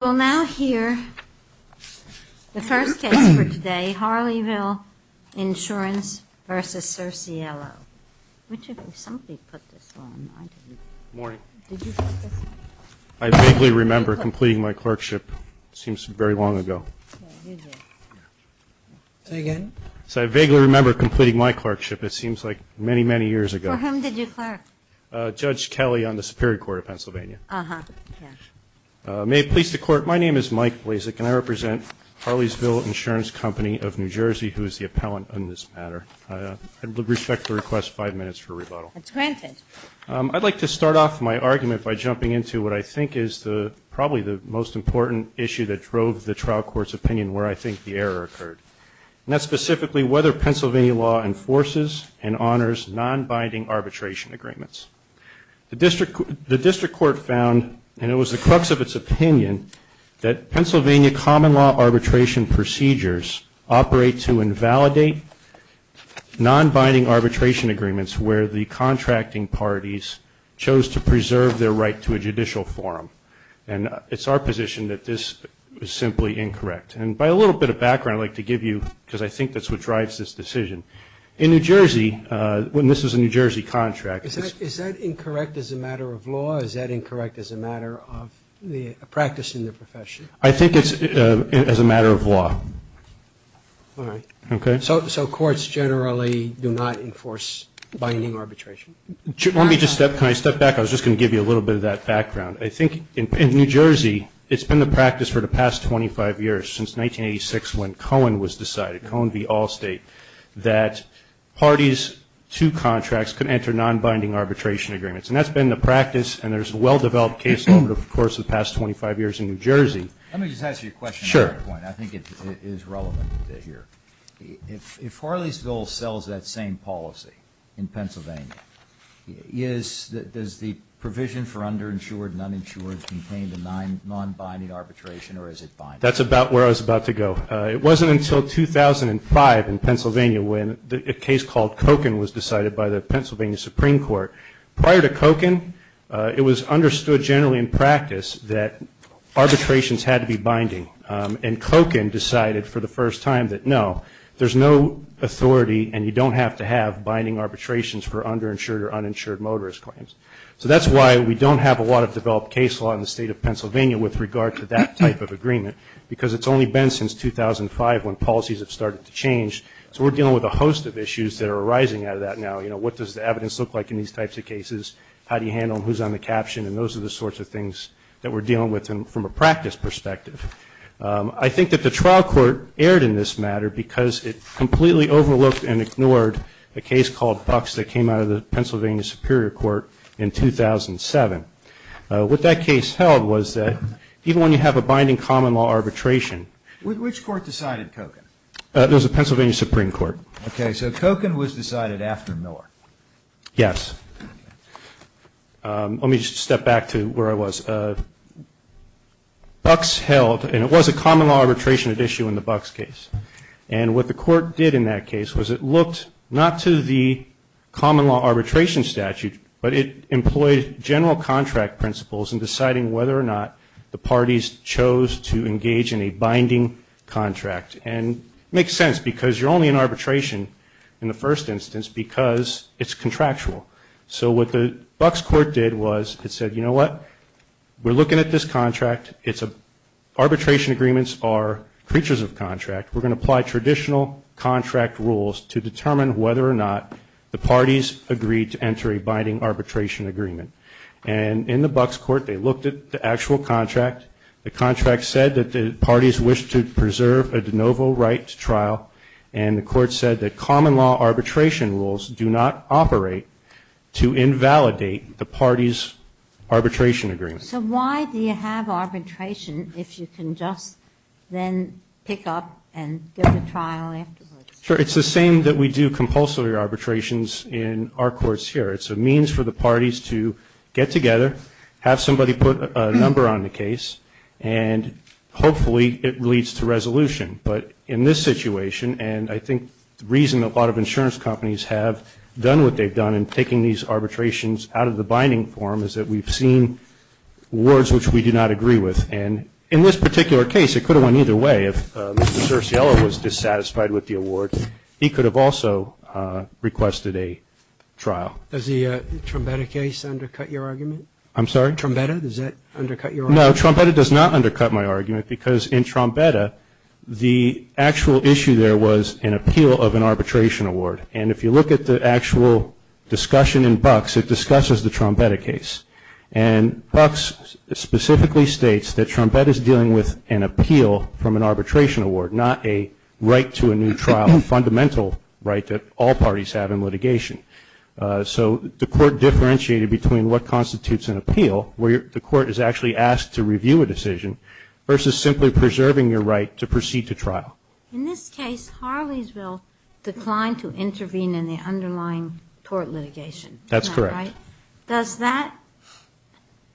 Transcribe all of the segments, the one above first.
We'll now hear the first case for today, Harleysville Insurance v. Cerciello. I vaguely remember completing my clerkship. It seems very long ago. Say again. I vaguely remember completing my clerkship. It seems like many, many years ago. For whom did you clerk? Judge Kelly on the Superior Court of Pennsylvania. May it please the Court, my name is Mike Blazek and I represent Harleysville Insurance Company of New Jersey, who is the appellant on this matter. I respectfully request five minutes for rebuttal. It's granted. I'd like to start off my argument by jumping into what I think is probably the most important issue that drove the trial court's opinion where I think the error occurred. And that's specifically whether Pennsylvania law enforces and honors non-binding arbitration agreements. The district court found, and it was the crux of its opinion, that Pennsylvania common law arbitration procedures operate to invalidate non-binding arbitration agreements where the contracting parties chose to preserve their right to a judicial forum. And it's our position that this is simply incorrect. And by a little bit of background, I'd like to give you, because I think that's what drives this decision. In New Jersey, when this was a New Jersey contract. Is that incorrect as a matter of law? Is that incorrect as a matter of practicing the profession? I think it's as a matter of law. All right. Okay. So courts generally do not enforce binding arbitration? Let me just step, can I step back? I was just going to give you a little bit of that background. I think in New Jersey, it's been the practice for the past 25 years, since 1986 when Cohen was decided, Cohen v. Allstate, that parties to contracts can enter non-binding arbitration agreements. And that's been the practice, and there's a well-developed case over the course of the past 25 years in New Jersey. Let me just ask you a question. Sure. I think it is relevant here. If Harleysville sells that same policy in Pennsylvania, does the provision for underinsured and uninsured contain the non-binding arbitration, or is it binding? That's about where I was about to go. It wasn't until 2005 in Pennsylvania when a case called Cohen was decided by the Pennsylvania Supreme Court. Prior to Cohen, it was understood generally in practice that arbitrations had to be binding, and Cohen decided for the first time that, no, there's no authority and you don't have to have binding arbitrations for underinsured or uninsured motorist claims. So that's why we don't have a lot of developed case law in the state of Pennsylvania with regard to that type of agreement, because it's only been since 2005 when policies have started to change. So we're dealing with a host of issues that are arising out of that now. What does the evidence look like in these types of cases? How do you handle them? Who's on the caption? And those are the sorts of things that we're dealing with from a practice perspective. I think that the trial court erred in this matter because it completely overlooked and ignored a case called Bucks that came out of the Pennsylvania Superior Court in 2007. What that case held was that even when you have a binding common law arbitration. Which court decided Cohen? It was the Pennsylvania Supreme Court. Okay, so Cohen was decided after Miller. Yes. Let me just step back to where I was. Bucks held, and it was a common law arbitration at issue in the Bucks case, and what the court did in that case was it looked not to the common law arbitration statute, but it employed general contract principles in deciding whether or not the parties chose to engage in a binding contract. And it makes sense because you're only in arbitration in the first instance because it's contractual. So what the Bucks court did was it said, you know what? We're looking at this contract. Arbitration agreements are creatures of contract. We're going to apply traditional contract rules to determine whether or not the parties agreed to enter a binding arbitration agreement. And in the Bucks court, they looked at the actual contract. The contract said that the parties wished to preserve a de novo right to trial, and the court said that common law arbitration rules do not operate to invalidate the party's arbitration agreement. So why do you have arbitration if you can just then pick up and go to trial afterwards? Sure. It's the same that we do compulsory arbitrations in our courts here. It's a means for the parties to get together, have somebody put a number on the case, and hopefully it leads to resolution. But in this situation, and I think the reason a lot of insurance companies have done what they've done in taking these arbitrations out of the binding form is that we've seen words which we do not agree with. And in this particular case, it could have went either way. If Mr. Cersiello was dissatisfied with the award, he could have also requested a trial. Does the Trombetta case undercut your argument? I'm sorry? Trombetta, does that undercut your argument? No, Trombetta does not undercut my argument because in Trombetta, the actual issue there was an appeal of an arbitration award. And if you look at the actual discussion in Bucks, it discusses the Trombetta case. And Bucks specifically states that Trombetta is dealing with an appeal from an arbitration award, not a right to a new trial, a fundamental right that all parties have in litigation. So the court differentiated between what constitutes an appeal, where the court is actually asked to review a decision, versus simply preserving your right to proceed to trial. In this case, Harleysville declined to intervene in the underlying tort litigation. That's correct. Does that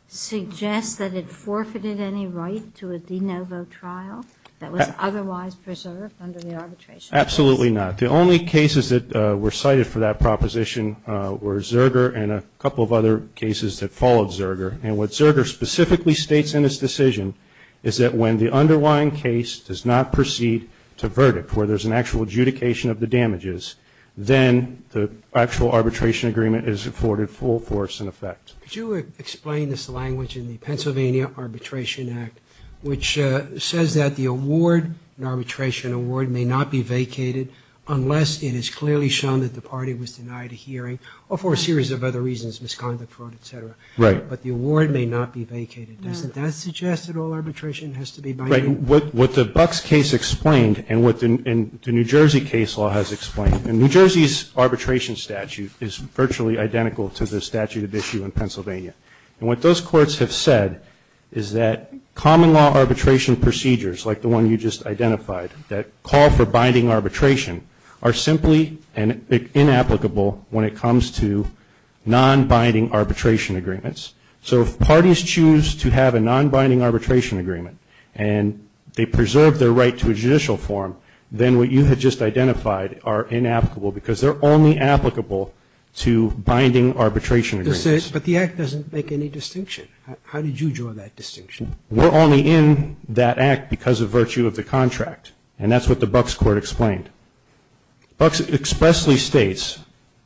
suggest that it forfeited any right to a de novo trial that was otherwise preserved under the arbitration? Absolutely not. The only cases that were cited for that proposition were Zerger and a couple of other cases that followed Zerger. And what Zerger specifically states in his decision is that when the underlying case does not proceed to verdict, where there's an actual adjudication of the damages, then the actual arbitration agreement is afforded full force in effect. Could you explain this language in the Pennsylvania Arbitration Act, which says that the award, an arbitration award, may not be vacated unless it is clearly shown that the party was denied a hearing, or for a series of other reasons, misconduct, fraud, et cetera. Right. But the award may not be vacated. Doesn't that suggest that all arbitration has to be binding? Right. What the Bucks case explained and what the New Jersey case law has explained, New Jersey's arbitration statute is virtually identical to the statute at issue in Pennsylvania. And what those courts have said is that common law arbitration procedures, like the one you just identified, that call for binding arbitration, are simply inapplicable when it comes to non-binding arbitration agreements. So if parties choose to have a non-binding arbitration agreement and they preserve their right to a judicial forum, then what you had just identified are inapplicable, because they're only applicable to binding arbitration agreements. But the Act doesn't make any distinction. How did you draw that distinction? We're only in that Act because of virtue of the contract. And that's what the Bucks court explained. Bucks expressly states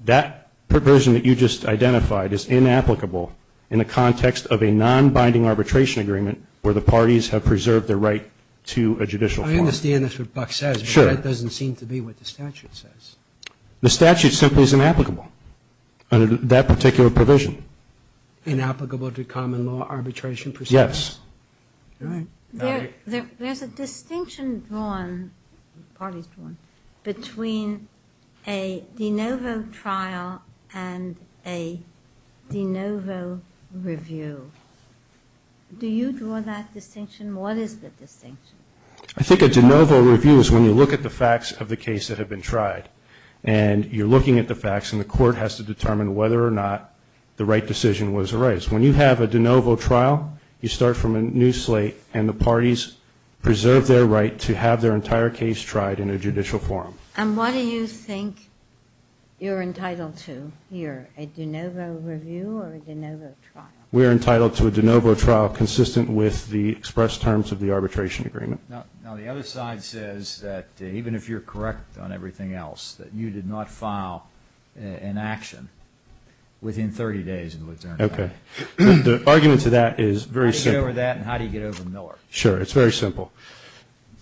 that provision that you just identified is inapplicable in the context of a non-binding arbitration agreement where the parties have preserved their right to a judicial forum. I understand that's what Bucks says. Sure. But that doesn't seem to be what the statute says. The statute simply is inapplicable under that particular provision. Inapplicable to common law arbitration procedures? Yes. All right. There's a distinction drawn, parties drawn, between a de novo trial and a de novo review. Do you draw that distinction? What is the distinction? I think a de novo review is when you look at the facts of the case that have been tried. And you're looking at the facts, and the court has to determine whether or not the right decision was the right. When you have a de novo trial, you start from a new slate, and the parties preserve their right to have their entire case tried in a judicial forum. And what do you think you're entitled to here, a de novo review or a de novo trial? We're entitled to a de novo trial consistent with the express terms of the arbitration agreement. Now, the other side says that even if you're correct on everything else, that you did not file an action within 30 days of the return. Okay. The argument to that is very simple. How do you get over that, and how do you get over Miller? Sure. It's very simple.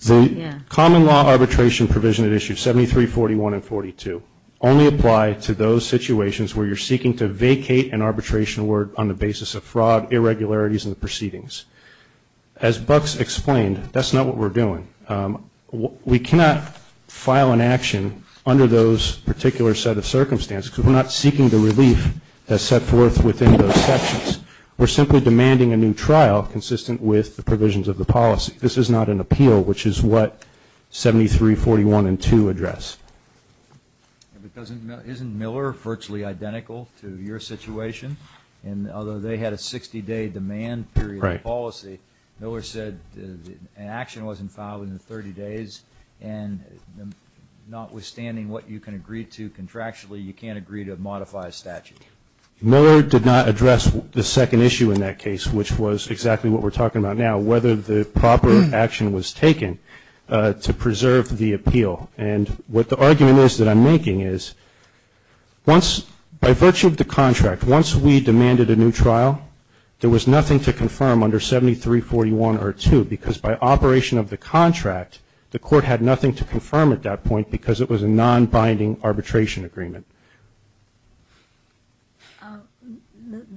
The common law arbitration provision at issue 73, 41, and 42 only apply to those situations where you're seeking to vacate an arbitration word on the basis of fraud, irregularities, and the proceedings. As Buck's explained, that's not what we're doing. We cannot file an action under those particular set of circumstances because we're not seeking the relief that's set forth within those sections. We're simply demanding a new trial consistent with the provisions of the policy. This is not an appeal, which is what 73, 41, and 2 address. Isn't Miller virtually identical to your situation? Although they had a 60-day demand period of policy, Miller said an action wasn't filed within 30 days, and notwithstanding what you can agree to contractually, you can't agree to modify a statute. Miller did not address the second issue in that case, which was exactly what we're talking about now, whether the proper action was taken to preserve the appeal. And what the argument is that I'm making is once, by virtue of the contract, once we demanded a new trial, there was nothing to confirm under 73, 41, or 2, because by operation of the contract, the court had nothing to confirm at that point because it was a non-binding arbitration agreement.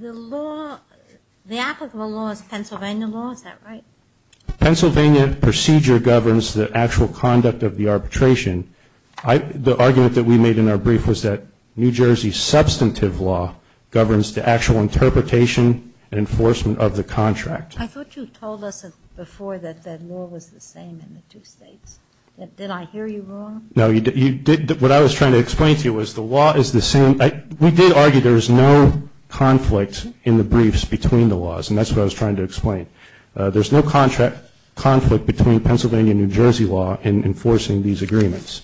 The law, the applicable law is Pennsylvania law, is that right? Pennsylvania procedure governs the actual conduct of the arbitration. The argument that we made in our brief was that New Jersey's substantive law governs the actual interpretation and enforcement of the contract. I thought you told us before that that law was the same in the two states. Did I hear you wrong? No. What I was trying to explain to you was the law is the same. We did argue there is no conflict in the briefs between the laws, and that's what I was trying to explain. There's no conflict between Pennsylvania and New Jersey law in enforcing these agreements.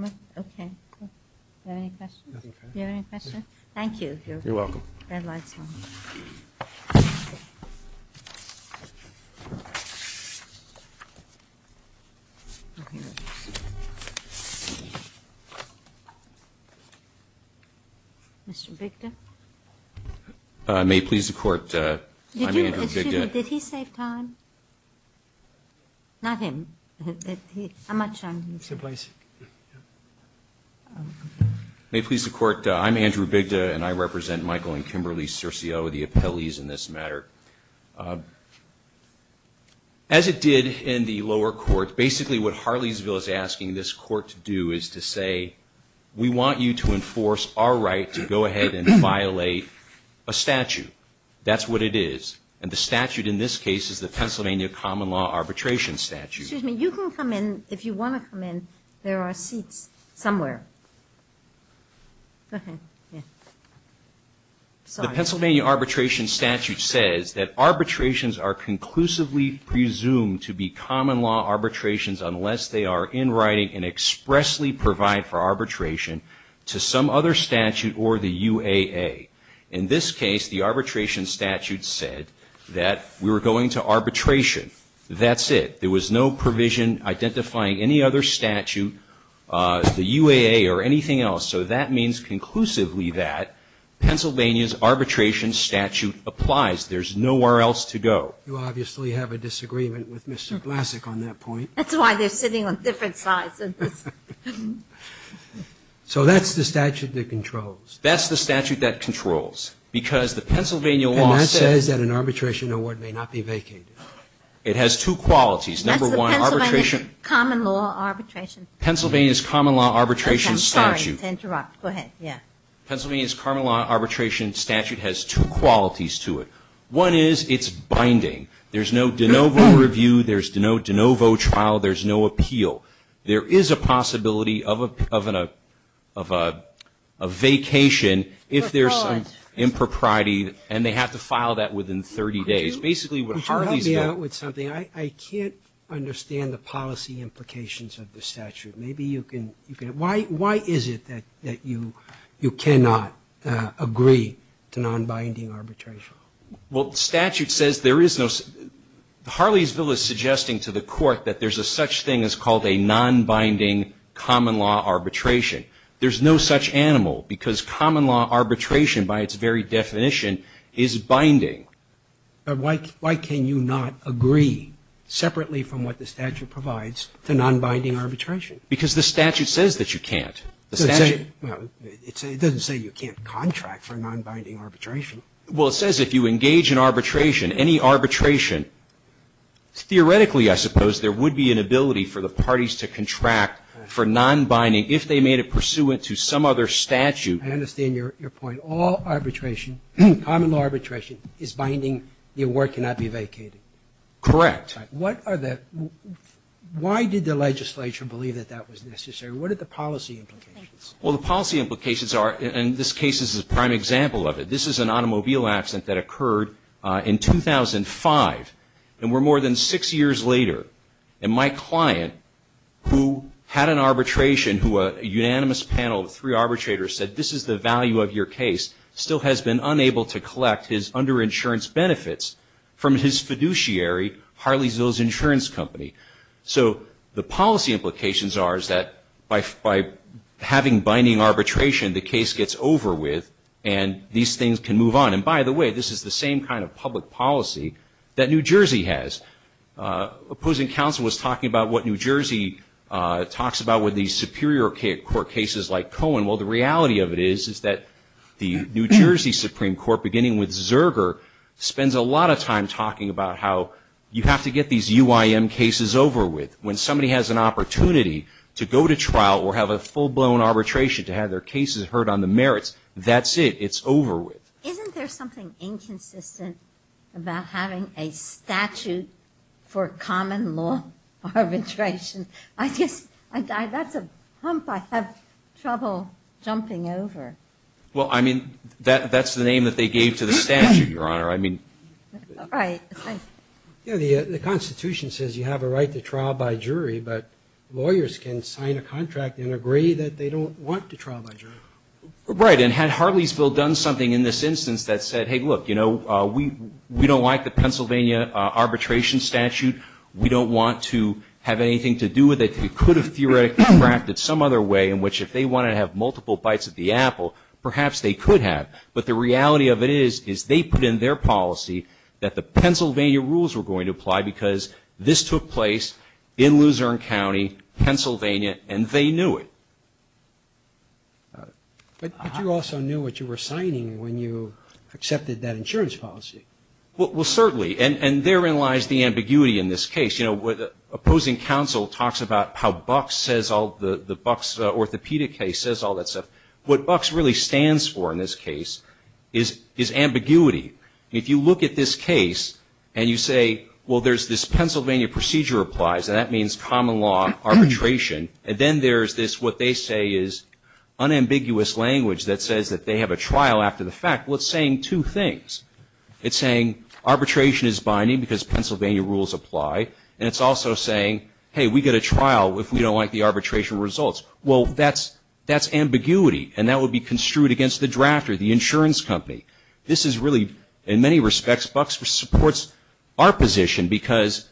Okay. Do you have any questions? Do you have any questions? Thank you. You're welcome. The red light is on. Mr. Bigda. May it please the Court, I'm Andrew Bigda. Did he save time? Not him. How much time? Same place. May it please the Court, I'm Andrew Bigda, and I represent Michael and Kimberly Circio, the appellees in this matter. As it did in the lower court, basically what Harleysville is asking this Court to do is to say, we want you to enforce our right to go ahead and violate a statute. That's what it is. And the statute in this case is the Pennsylvania common law arbitration statute. Excuse me. You can come in if you want to come in. There are seats somewhere. The Pennsylvania arbitration statute says that arbitrations are conclusively presumed to be common law arbitrations unless they are in writing and expressly provide for arbitration to some other statute or the UAA. In this case, the arbitration statute said that we were going to arbitration. That's it. There was no provision identifying any other statute, the UAA or anything else. So that means conclusively that Pennsylvania's arbitration statute applies. There's nowhere else to go. You obviously have a disagreement with Mr. Blasek on that point. That's why they're sitting on different sides. So that's the statute that controls. That's the statute that controls. Because the Pennsylvania law says that an arbitration award may not be vacated. It has two qualities. Number one, arbitration. That's the Pennsylvania common law arbitration. Pennsylvania's common law arbitration statute. Sorry to interrupt. Go ahead. Yeah. Pennsylvania's common law arbitration statute has two qualities to it. One is it's binding. There's no de novo review. There's no de novo trial. There's no appeal. There is a possibility of a vacation if there's some impropriety, and they have to file that within 30 days. That's basically what Harleysville. Would you help me out with something? I can't understand the policy implications of the statute. Maybe you can. Why is it that you cannot agree to non-binding arbitration? Well, statute says there is no. Harleysville is suggesting to the court that there's a such thing as called a non-binding common law arbitration. There's no such animal because common law arbitration by its very definition is binding. But why can you not agree separately from what the statute provides to non-binding arbitration? Because the statute says that you can't. It doesn't say you can't contract for non-binding arbitration. Well, it says if you engage in arbitration, any arbitration, theoretically, I suppose there would be an ability for the parties to contract for non-binding if they made it pursuant to some other statute. I understand your point. But all arbitration, common law arbitration, is binding. The award cannot be vacated. Correct. Why did the legislature believe that that was necessary? What are the policy implications? Well, the policy implications are, and this case is a prime example of it, this is an automobile accident that occurred in 2005, and we're more than six years later. And my client, who had an arbitration, who a unanimous panel of three arbitrators said this is the value of your case, still has been unable to collect his under-insurance benefits from his fiduciary, Harley Zill's insurance company. So the policy implications are is that by having binding arbitration, the case gets over with and these things can move on. And, by the way, this is the same kind of public policy that New Jersey has. Opposing counsel was talking about what New Jersey talks about with these superior court cases like Cohen. Well, the reality of it is is that the New Jersey Supreme Court, beginning with Zerger, spends a lot of time talking about how you have to get these UIM cases over with. When somebody has an opportunity to go to trial or have a full-blown arbitration to have their cases heard on the merits, that's it. It's over with. Isn't there something inconsistent about having a statute for common law arbitration? I guess that's a hump I have trouble jumping over. Well, I mean, that's the name that they gave to the statute, Your Honor. I mean. Right. The Constitution says you have a right to trial by jury, but lawyers can sign a contract and agree that they don't want to trial by jury. Right. And had Harley Zill done something in this instance that said, hey, look, you know, we don't like the Pennsylvania arbitration statute. We don't want to have anything to do with it. They could have theoretically drafted some other way in which if they want to have multiple bites at the apple, perhaps they could have. But the reality of it is is they put in their policy that the Pennsylvania rules were going to apply because this took place in Luzerne County, Pennsylvania, and they knew it. But you also knew what you were signing when you accepted that insurance policy. Well, certainly. And therein lies the ambiguity in this case. You know, opposing counsel talks about how Bucks says all the Bucks orthopedic case says all that stuff. What Bucks really stands for in this case is ambiguity. If you look at this case and you say, well, there's this Pennsylvania procedure applies, and that means common law arbitration, and then there's this what they say is unambiguous language that says that they have a trial after the fact, well, it's saying two things. It's saying arbitration is binding because Pennsylvania rules apply, and it's also saying, hey, we get a trial if we don't like the arbitration results. Well, that's ambiguity, and that would be construed against the drafter, the insurance company. This is really, in many respects, Bucks supports our position because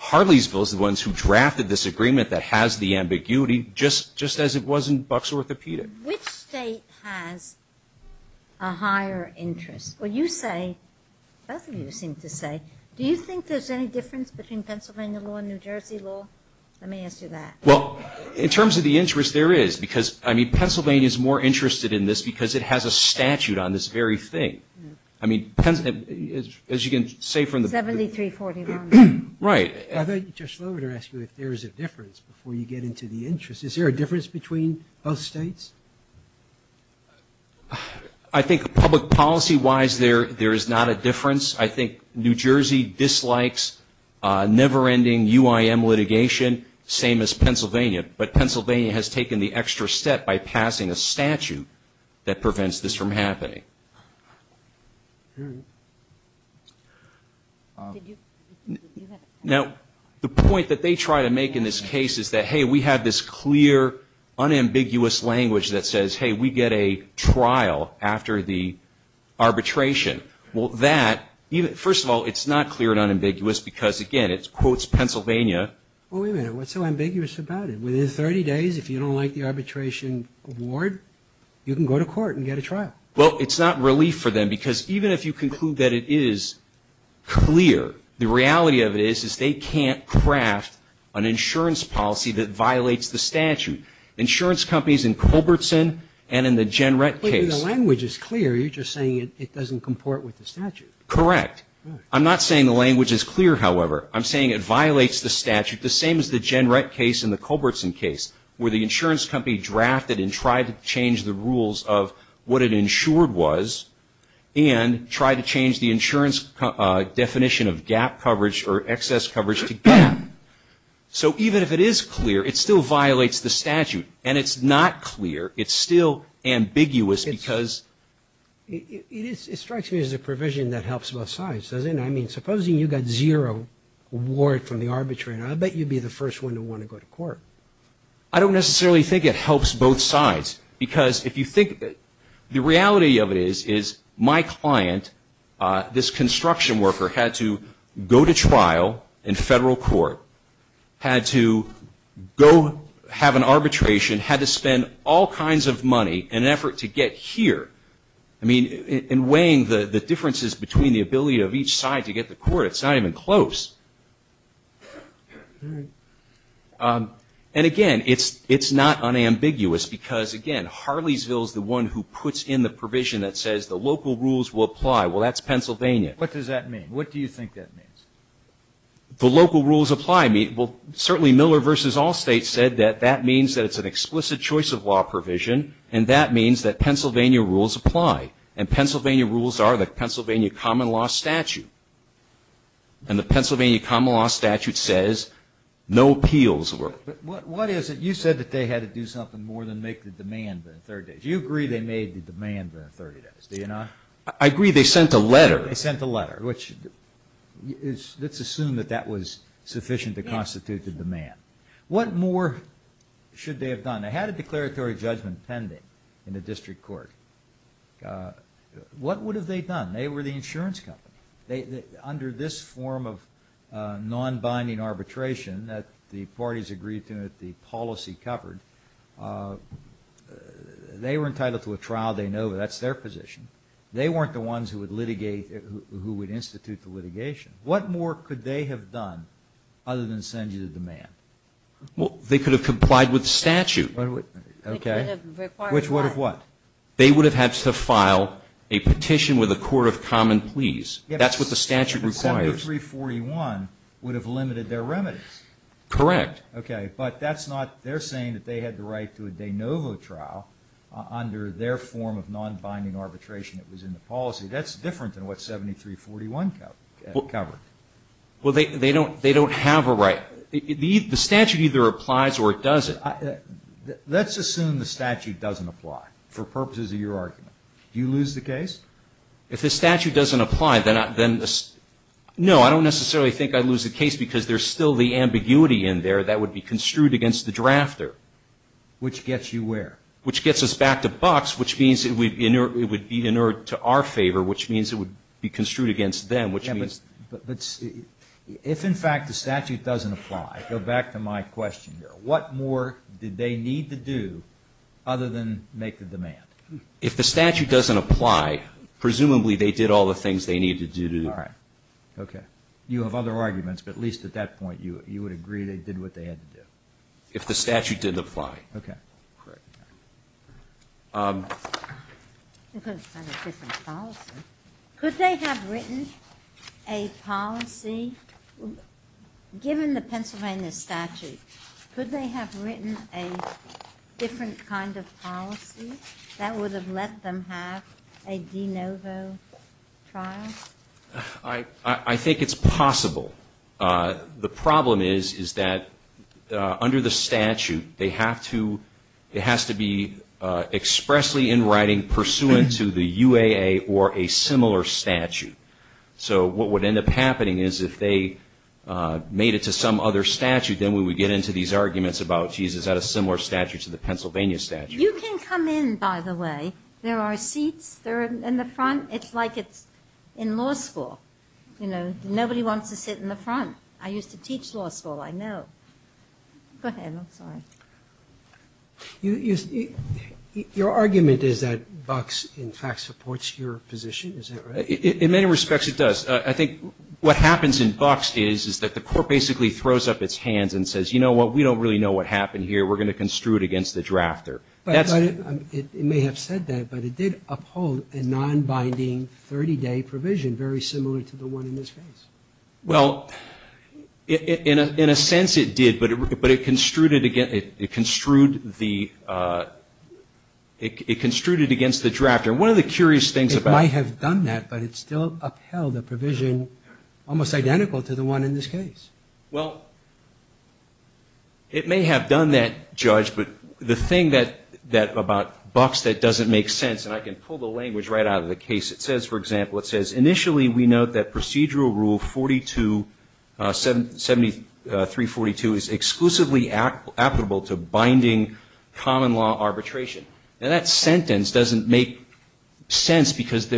Harleysville is the ones who drafted this agreement that has the ambiguity just as it was in Bucks orthopedic. Which state has a higher interest? Well, you say, both of you seem to say, do you think there's any difference between Pennsylvania law and New Jersey law? Let me ask you that. Well, in terms of the interest, there is because, I mean, Pennsylvania is more interested in this because it has a statute on this very thing. I mean, as you can say from the- 7341. Right. I thought you were just looking to ask you if there is a difference before you get into the interest. Is there a difference between both states? I think public policy-wise, there is not a difference. I think New Jersey dislikes never-ending UIM litigation, same as Pennsylvania. But Pennsylvania has taken the extra step by passing a statute that prevents this from happening. All right. Now, the point that they try to make in this case is that, hey, we have this clear, unambiguous language that says, hey, we get a trial after the arbitration. Well, that, first of all, it's not clear and unambiguous because, again, it quotes Pennsylvania. Well, wait a minute. What's so ambiguous about it? Within 30 days, if you don't like the arbitration award, you can go to court and get a trial. Well, it's not relief for them because even if you conclude that it is clear, the reality of it is is they can't craft an insurance policy that violates the statute. Insurance companies in Culbertson and in the Jenrett case- But the language is clear. You're just saying it doesn't comport with the statute. Correct. I'm not saying the language is clear, however. I'm saying it violates the statute, the same as the Jenrett case and the Culbertson case, where the insurance company drafted and tried to change the rules of what it insured was and tried to change the insurance definition of gap coverage or excess coverage to gap. So even if it is clear, it still violates the statute. And it's not clear. It's still ambiguous because- It strikes me as a provision that helps both sides, doesn't it? I mean, supposing you got zero award from the arbitrator, I bet you'd be the first one to want to go to court. I don't necessarily think it helps both sides because if you think of it, the reality of it is is my client, this construction worker, had to go to trial in federal court, had to go have an arbitration, had to spend all kinds of money in an effort to get here. I mean, in weighing the differences between the ability of each side to get to court, it's not even close. And again, it's not unambiguous because, again, Harleysville is the one who puts in the provision that says the local rules will apply. Well, that's Pennsylvania. What does that mean? What do you think that means? The local rules apply. Well, certainly Miller v. Allstate said that that means that it's an explicit choice of law provision and that means that Pennsylvania rules apply. And Pennsylvania rules are the Pennsylvania common law statute. And the Pennsylvania common law statute says no appeals were. What is it? You said that they had to do something more than make the demand within 30 days. You agree they made the demand within 30 days, do you not? I agree. They sent a letter. They sent a letter, which let's assume that that was sufficient to constitute the demand. What more should they have done? They had a declaratory judgment pending in the district court. What would have they done? They were the insurance company. Under this form of non-binding arbitration that the parties agreed to and that the policy covered, they were entitled to a trial. They know that that's their position. They weren't the ones who would institute the litigation. What more could they have done other than send you the demand? Well, they could have complied with statute. Okay. Which would have required what? Which would have what? They would have had to file a petition with a court of common pleas. That's what the statute requires. But 7341 would have limited their remedies. Correct. Okay. But that's not they're saying that they had the right to a de novo trial under their form of non-binding arbitration that was in the policy. That's different than what 7341 covered. Well, they don't have a right. The statute either applies or it doesn't. Let's assume the statute doesn't apply for purposes of your argument. Do you lose the case? If the statute doesn't apply, then no, I don't necessarily think I'd lose the case because there's still the ambiguity in there that would be construed against the drafter. Which gets you where? Which gets us back to bucks, which means it would be in our favor, which means it would be construed against them. If, in fact, the statute doesn't apply, go back to my question here, what more did they need to do other than make the demand? If the statute doesn't apply, presumably they did all the things they needed to do. All right. Okay. You have other arguments, but at least at that point you would agree they did what they had to do. If the statute didn't apply. Okay. Correct. It could have been a different policy. Could they have written a policy? Given the Pennsylvania statute, could they have written a different kind of policy that would have let them have a de novo trial? I think it's possible. The problem is, is that under the statute, it has to be expressly in writing pursuant to the UAA or a similar statute. So what would end up happening is if they made it to some other statute, then we would get into these arguments about, geez, is that a similar statute to the Pennsylvania statute? You can come in, by the way. There are seats. They're in the front. It's like it's in law school. Nobody wants to sit in the front. I used to teach law school, I know. Go ahead. I'm sorry. Your argument is that BUCS, in fact, supports your position. Is that right? In many respects it does. I think what happens in BUCS is that the court basically throws up its hands and says, you know what, we don't really know what happened here. We're going to construe it against the drafter. It may have said that, but it did uphold a non-binding 30-day provision, very similar to the one in this case. Well, in a sense it did, but it construed it against the drafter. One of the curious things about it. It might have done that, but it still upheld a provision almost identical to the one in this case. Well, it may have done that, Judge, but the thing about BUCS that doesn't make sense, and I can pull the language right out of the case, it says, for example, it says, initially we note that procedural rule 7342 is exclusively applicable to binding common law arbitration. And that sentence doesn't make sense because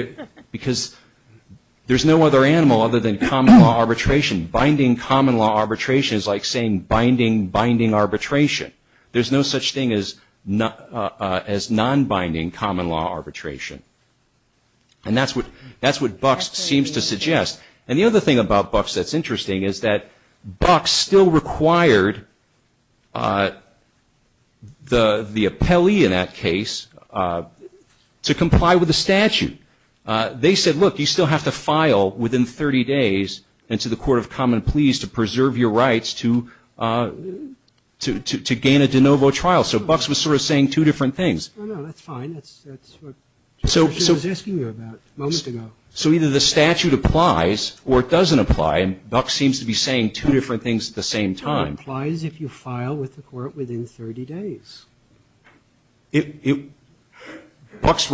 there's no other animal other than common law arbitration. Binding common law arbitration is like saying binding binding arbitration. There's no such thing as non-binding common law arbitration. And that's what BUCS seems to suggest. And the other thing about BUCS that's interesting is that BUCS still required the appellee in that case to comply with the statute. They said, look, you still have to file within 30 days into the court of common pleas to gain a de novo trial. So BUCS was sort of saying two different things. No, no, that's fine. That's what I was asking you about a moment ago. So either the statute applies or it doesn't apply, and BUCS seems to be saying two different things at the same time. It only applies if you file with the court within 30 days. BUCS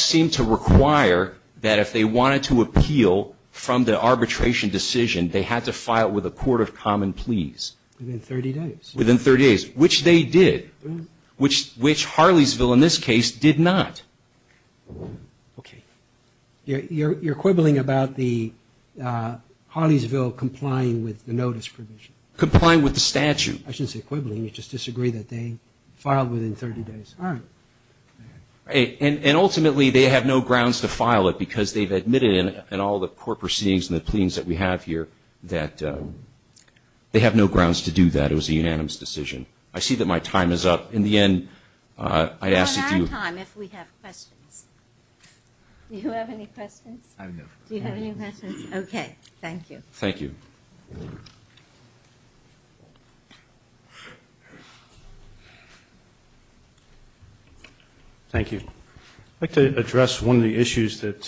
seemed to require that if they wanted to appeal from the arbitration decision, they had to file with the court of common pleas. Within 30 days. Within 30 days, which they did, which Harleysville in this case did not. Okay. You're quibbling about the Harleysville complying with the notice provision. Complying with the statute. I shouldn't say quibbling. You just disagree that they filed within 30 days. All right. And ultimately they have no grounds to file it because they've admitted in all the court proceedings and the pleadings that we have here that they have no grounds to do that. It was a unanimous decision. I see that my time is up. In the end, I ask that you. We'll have time if we have questions. Do you have any questions? I have no questions. Do you have any questions? Okay. Thank you. Thank you. Thank you. I'd like to address one of the issues that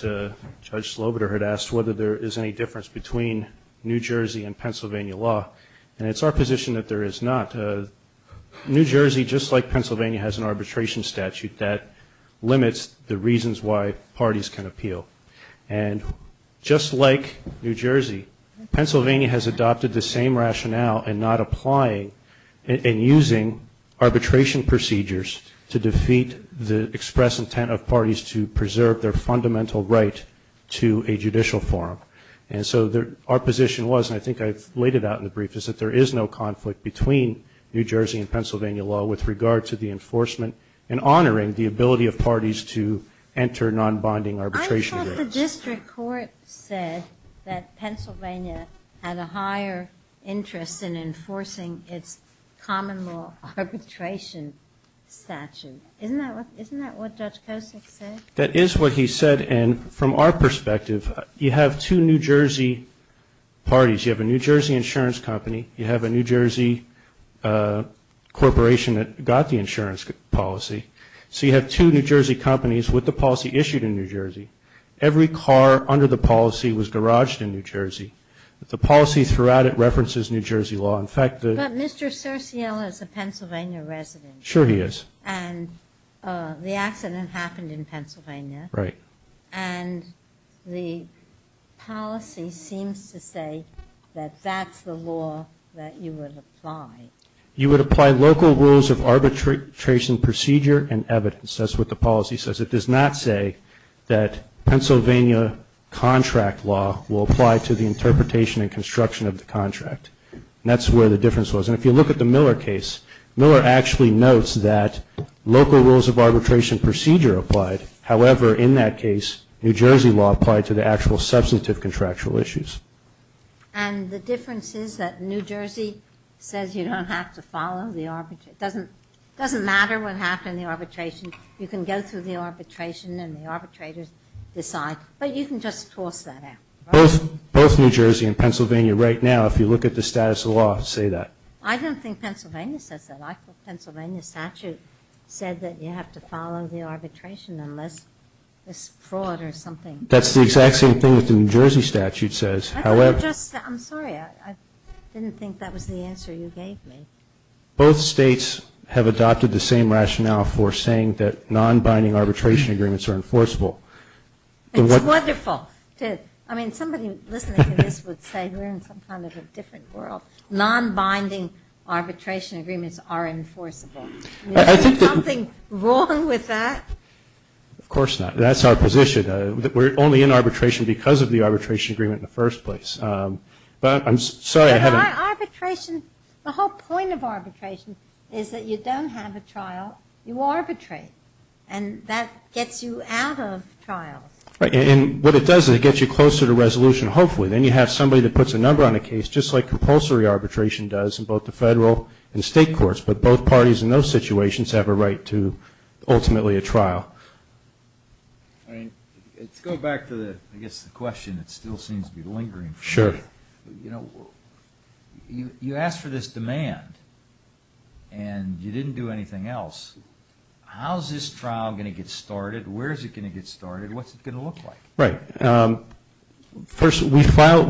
Judge Slobiter had asked, whether there is any difference between New Jersey and Pennsylvania law. And it's our position that there is not. New Jersey, just like Pennsylvania, has an arbitration statute that limits the reasons why parties can appeal. And just like New Jersey, Pennsylvania has adopted the same rationale in not applying and using arbitration procedures to defeat the express intent of parties to preserve their fundamental right to a judicial forum. And so our position was, and I think I've laid it out in the brief, is that there is no conflict between New Jersey and Pennsylvania law with regard to the enforcement and honoring the ability of parties to enter non-bonding arbitration agreements. I thought the district court said that Pennsylvania had a higher interest in enforcing its common law arbitration statute. Isn't that what Judge Kosick said? That is what he said. And from our perspective, you have two New Jersey parties. You have a New Jersey insurance company. You have a New Jersey corporation that got the insurance policy. So you have two New Jersey companies with the policy issued in New Jersey. Every car under the policy was garaged in New Jersey. The policy throughout it references New Jersey law. In fact, the ---- But Mr. Cerciel is a Pennsylvania resident. Sure he is. And the accident happened in Pennsylvania. Right. And the policy seems to say that that's the law that you would apply. You would apply local rules of arbitration procedure and evidence. That's what the policy says. It does not say that Pennsylvania contract law will apply to the interpretation and construction of the contract. And that's where the difference was. And if you look at the Miller case, Miller actually notes that local rules of arbitration procedure applied. However, in that case, New Jersey law applied to the actual substantive contractual issues. And the difference is that New Jersey says you don't have to follow the arbitration. It doesn't matter what happened in the arbitration. You can go through the arbitration and the arbitrators decide. But you can just toss that out. Both New Jersey and Pennsylvania right now, if you look at the status of the law, say that. I don't think Pennsylvania says that. Pennsylvania statute said that you have to follow the arbitration unless it's fraud or something. That's the exact same thing that the New Jersey statute says. I'm sorry. I didn't think that was the answer you gave me. Both states have adopted the same rationale for saying that non-binding arbitration agreements are enforceable. It's wonderful. I mean, somebody listening to this would say we're in some kind of a different world. Non-binding arbitration agreements are enforceable. Is there something wrong with that? Of course not. That's our position. We're only in arbitration because of the arbitration agreement in the first place. But I'm sorry. But arbitration, the whole point of arbitration is that you don't have a trial. You arbitrate. And that gets you out of trials. Right. And what it does is it gets you closer to resolution, hopefully. Then you have somebody that puts a number on a case, just like compulsory arbitration does in both the federal and state courts. But both parties in those situations have a right to ultimately a trial. All right. Let's go back to the, I guess, the question that still seems to be lingering. Sure. You know, you asked for this demand and you didn't do anything else. How is this trial going to get started? Where is it going to get started? What's it going to look like? Right. First, we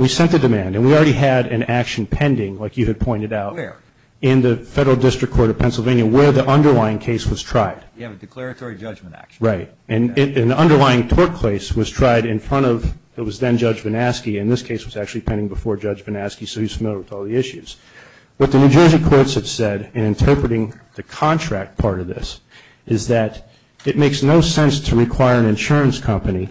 sent the demand. And we already had an action pending, like you had pointed out. Where? In the Federal District Court of Pennsylvania, where the underlying case was tried. You have a declaratory judgment action. Right. And the underlying tort case was tried in front of, it was then Judge Vanaski. And this case was actually pending before Judge Vanaski, so he's familiar with all the issues. What the New Jersey courts have said in interpreting the contract part of this is that it makes no sense to require an insurance company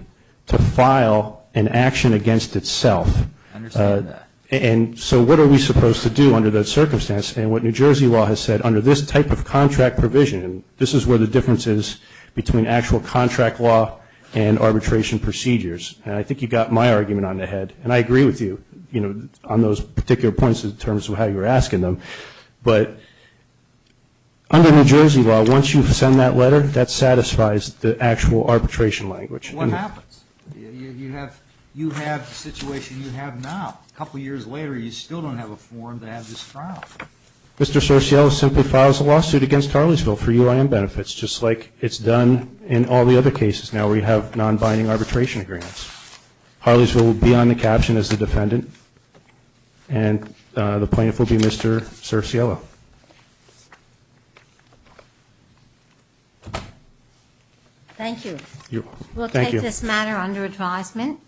to file an action against itself. I understand that. And so what are we supposed to do under that circumstance? And what New Jersey law has said, under this type of contract provision, this is where the difference is between actual contract law and arbitration procedures. And I think you got my argument on the head. And I agree with you, you know, on those particular points in terms of how you were asking them. But under New Jersey law, once you send that letter, that satisfies the actual arbitration language. What happens? You have the situation you have now. A couple of years later, you still don't have a form to have this filed. Mr. Sorciello simply files a lawsuit against Harleysville for UIM benefits, just like it's done in all the other cases now where you have non-binding arbitration agreements. Harleysville will be on the caption as the defendant, and the plaintiff will be Mr. Sorciello. Thank you. Thank you. We'll take this matter under advisement.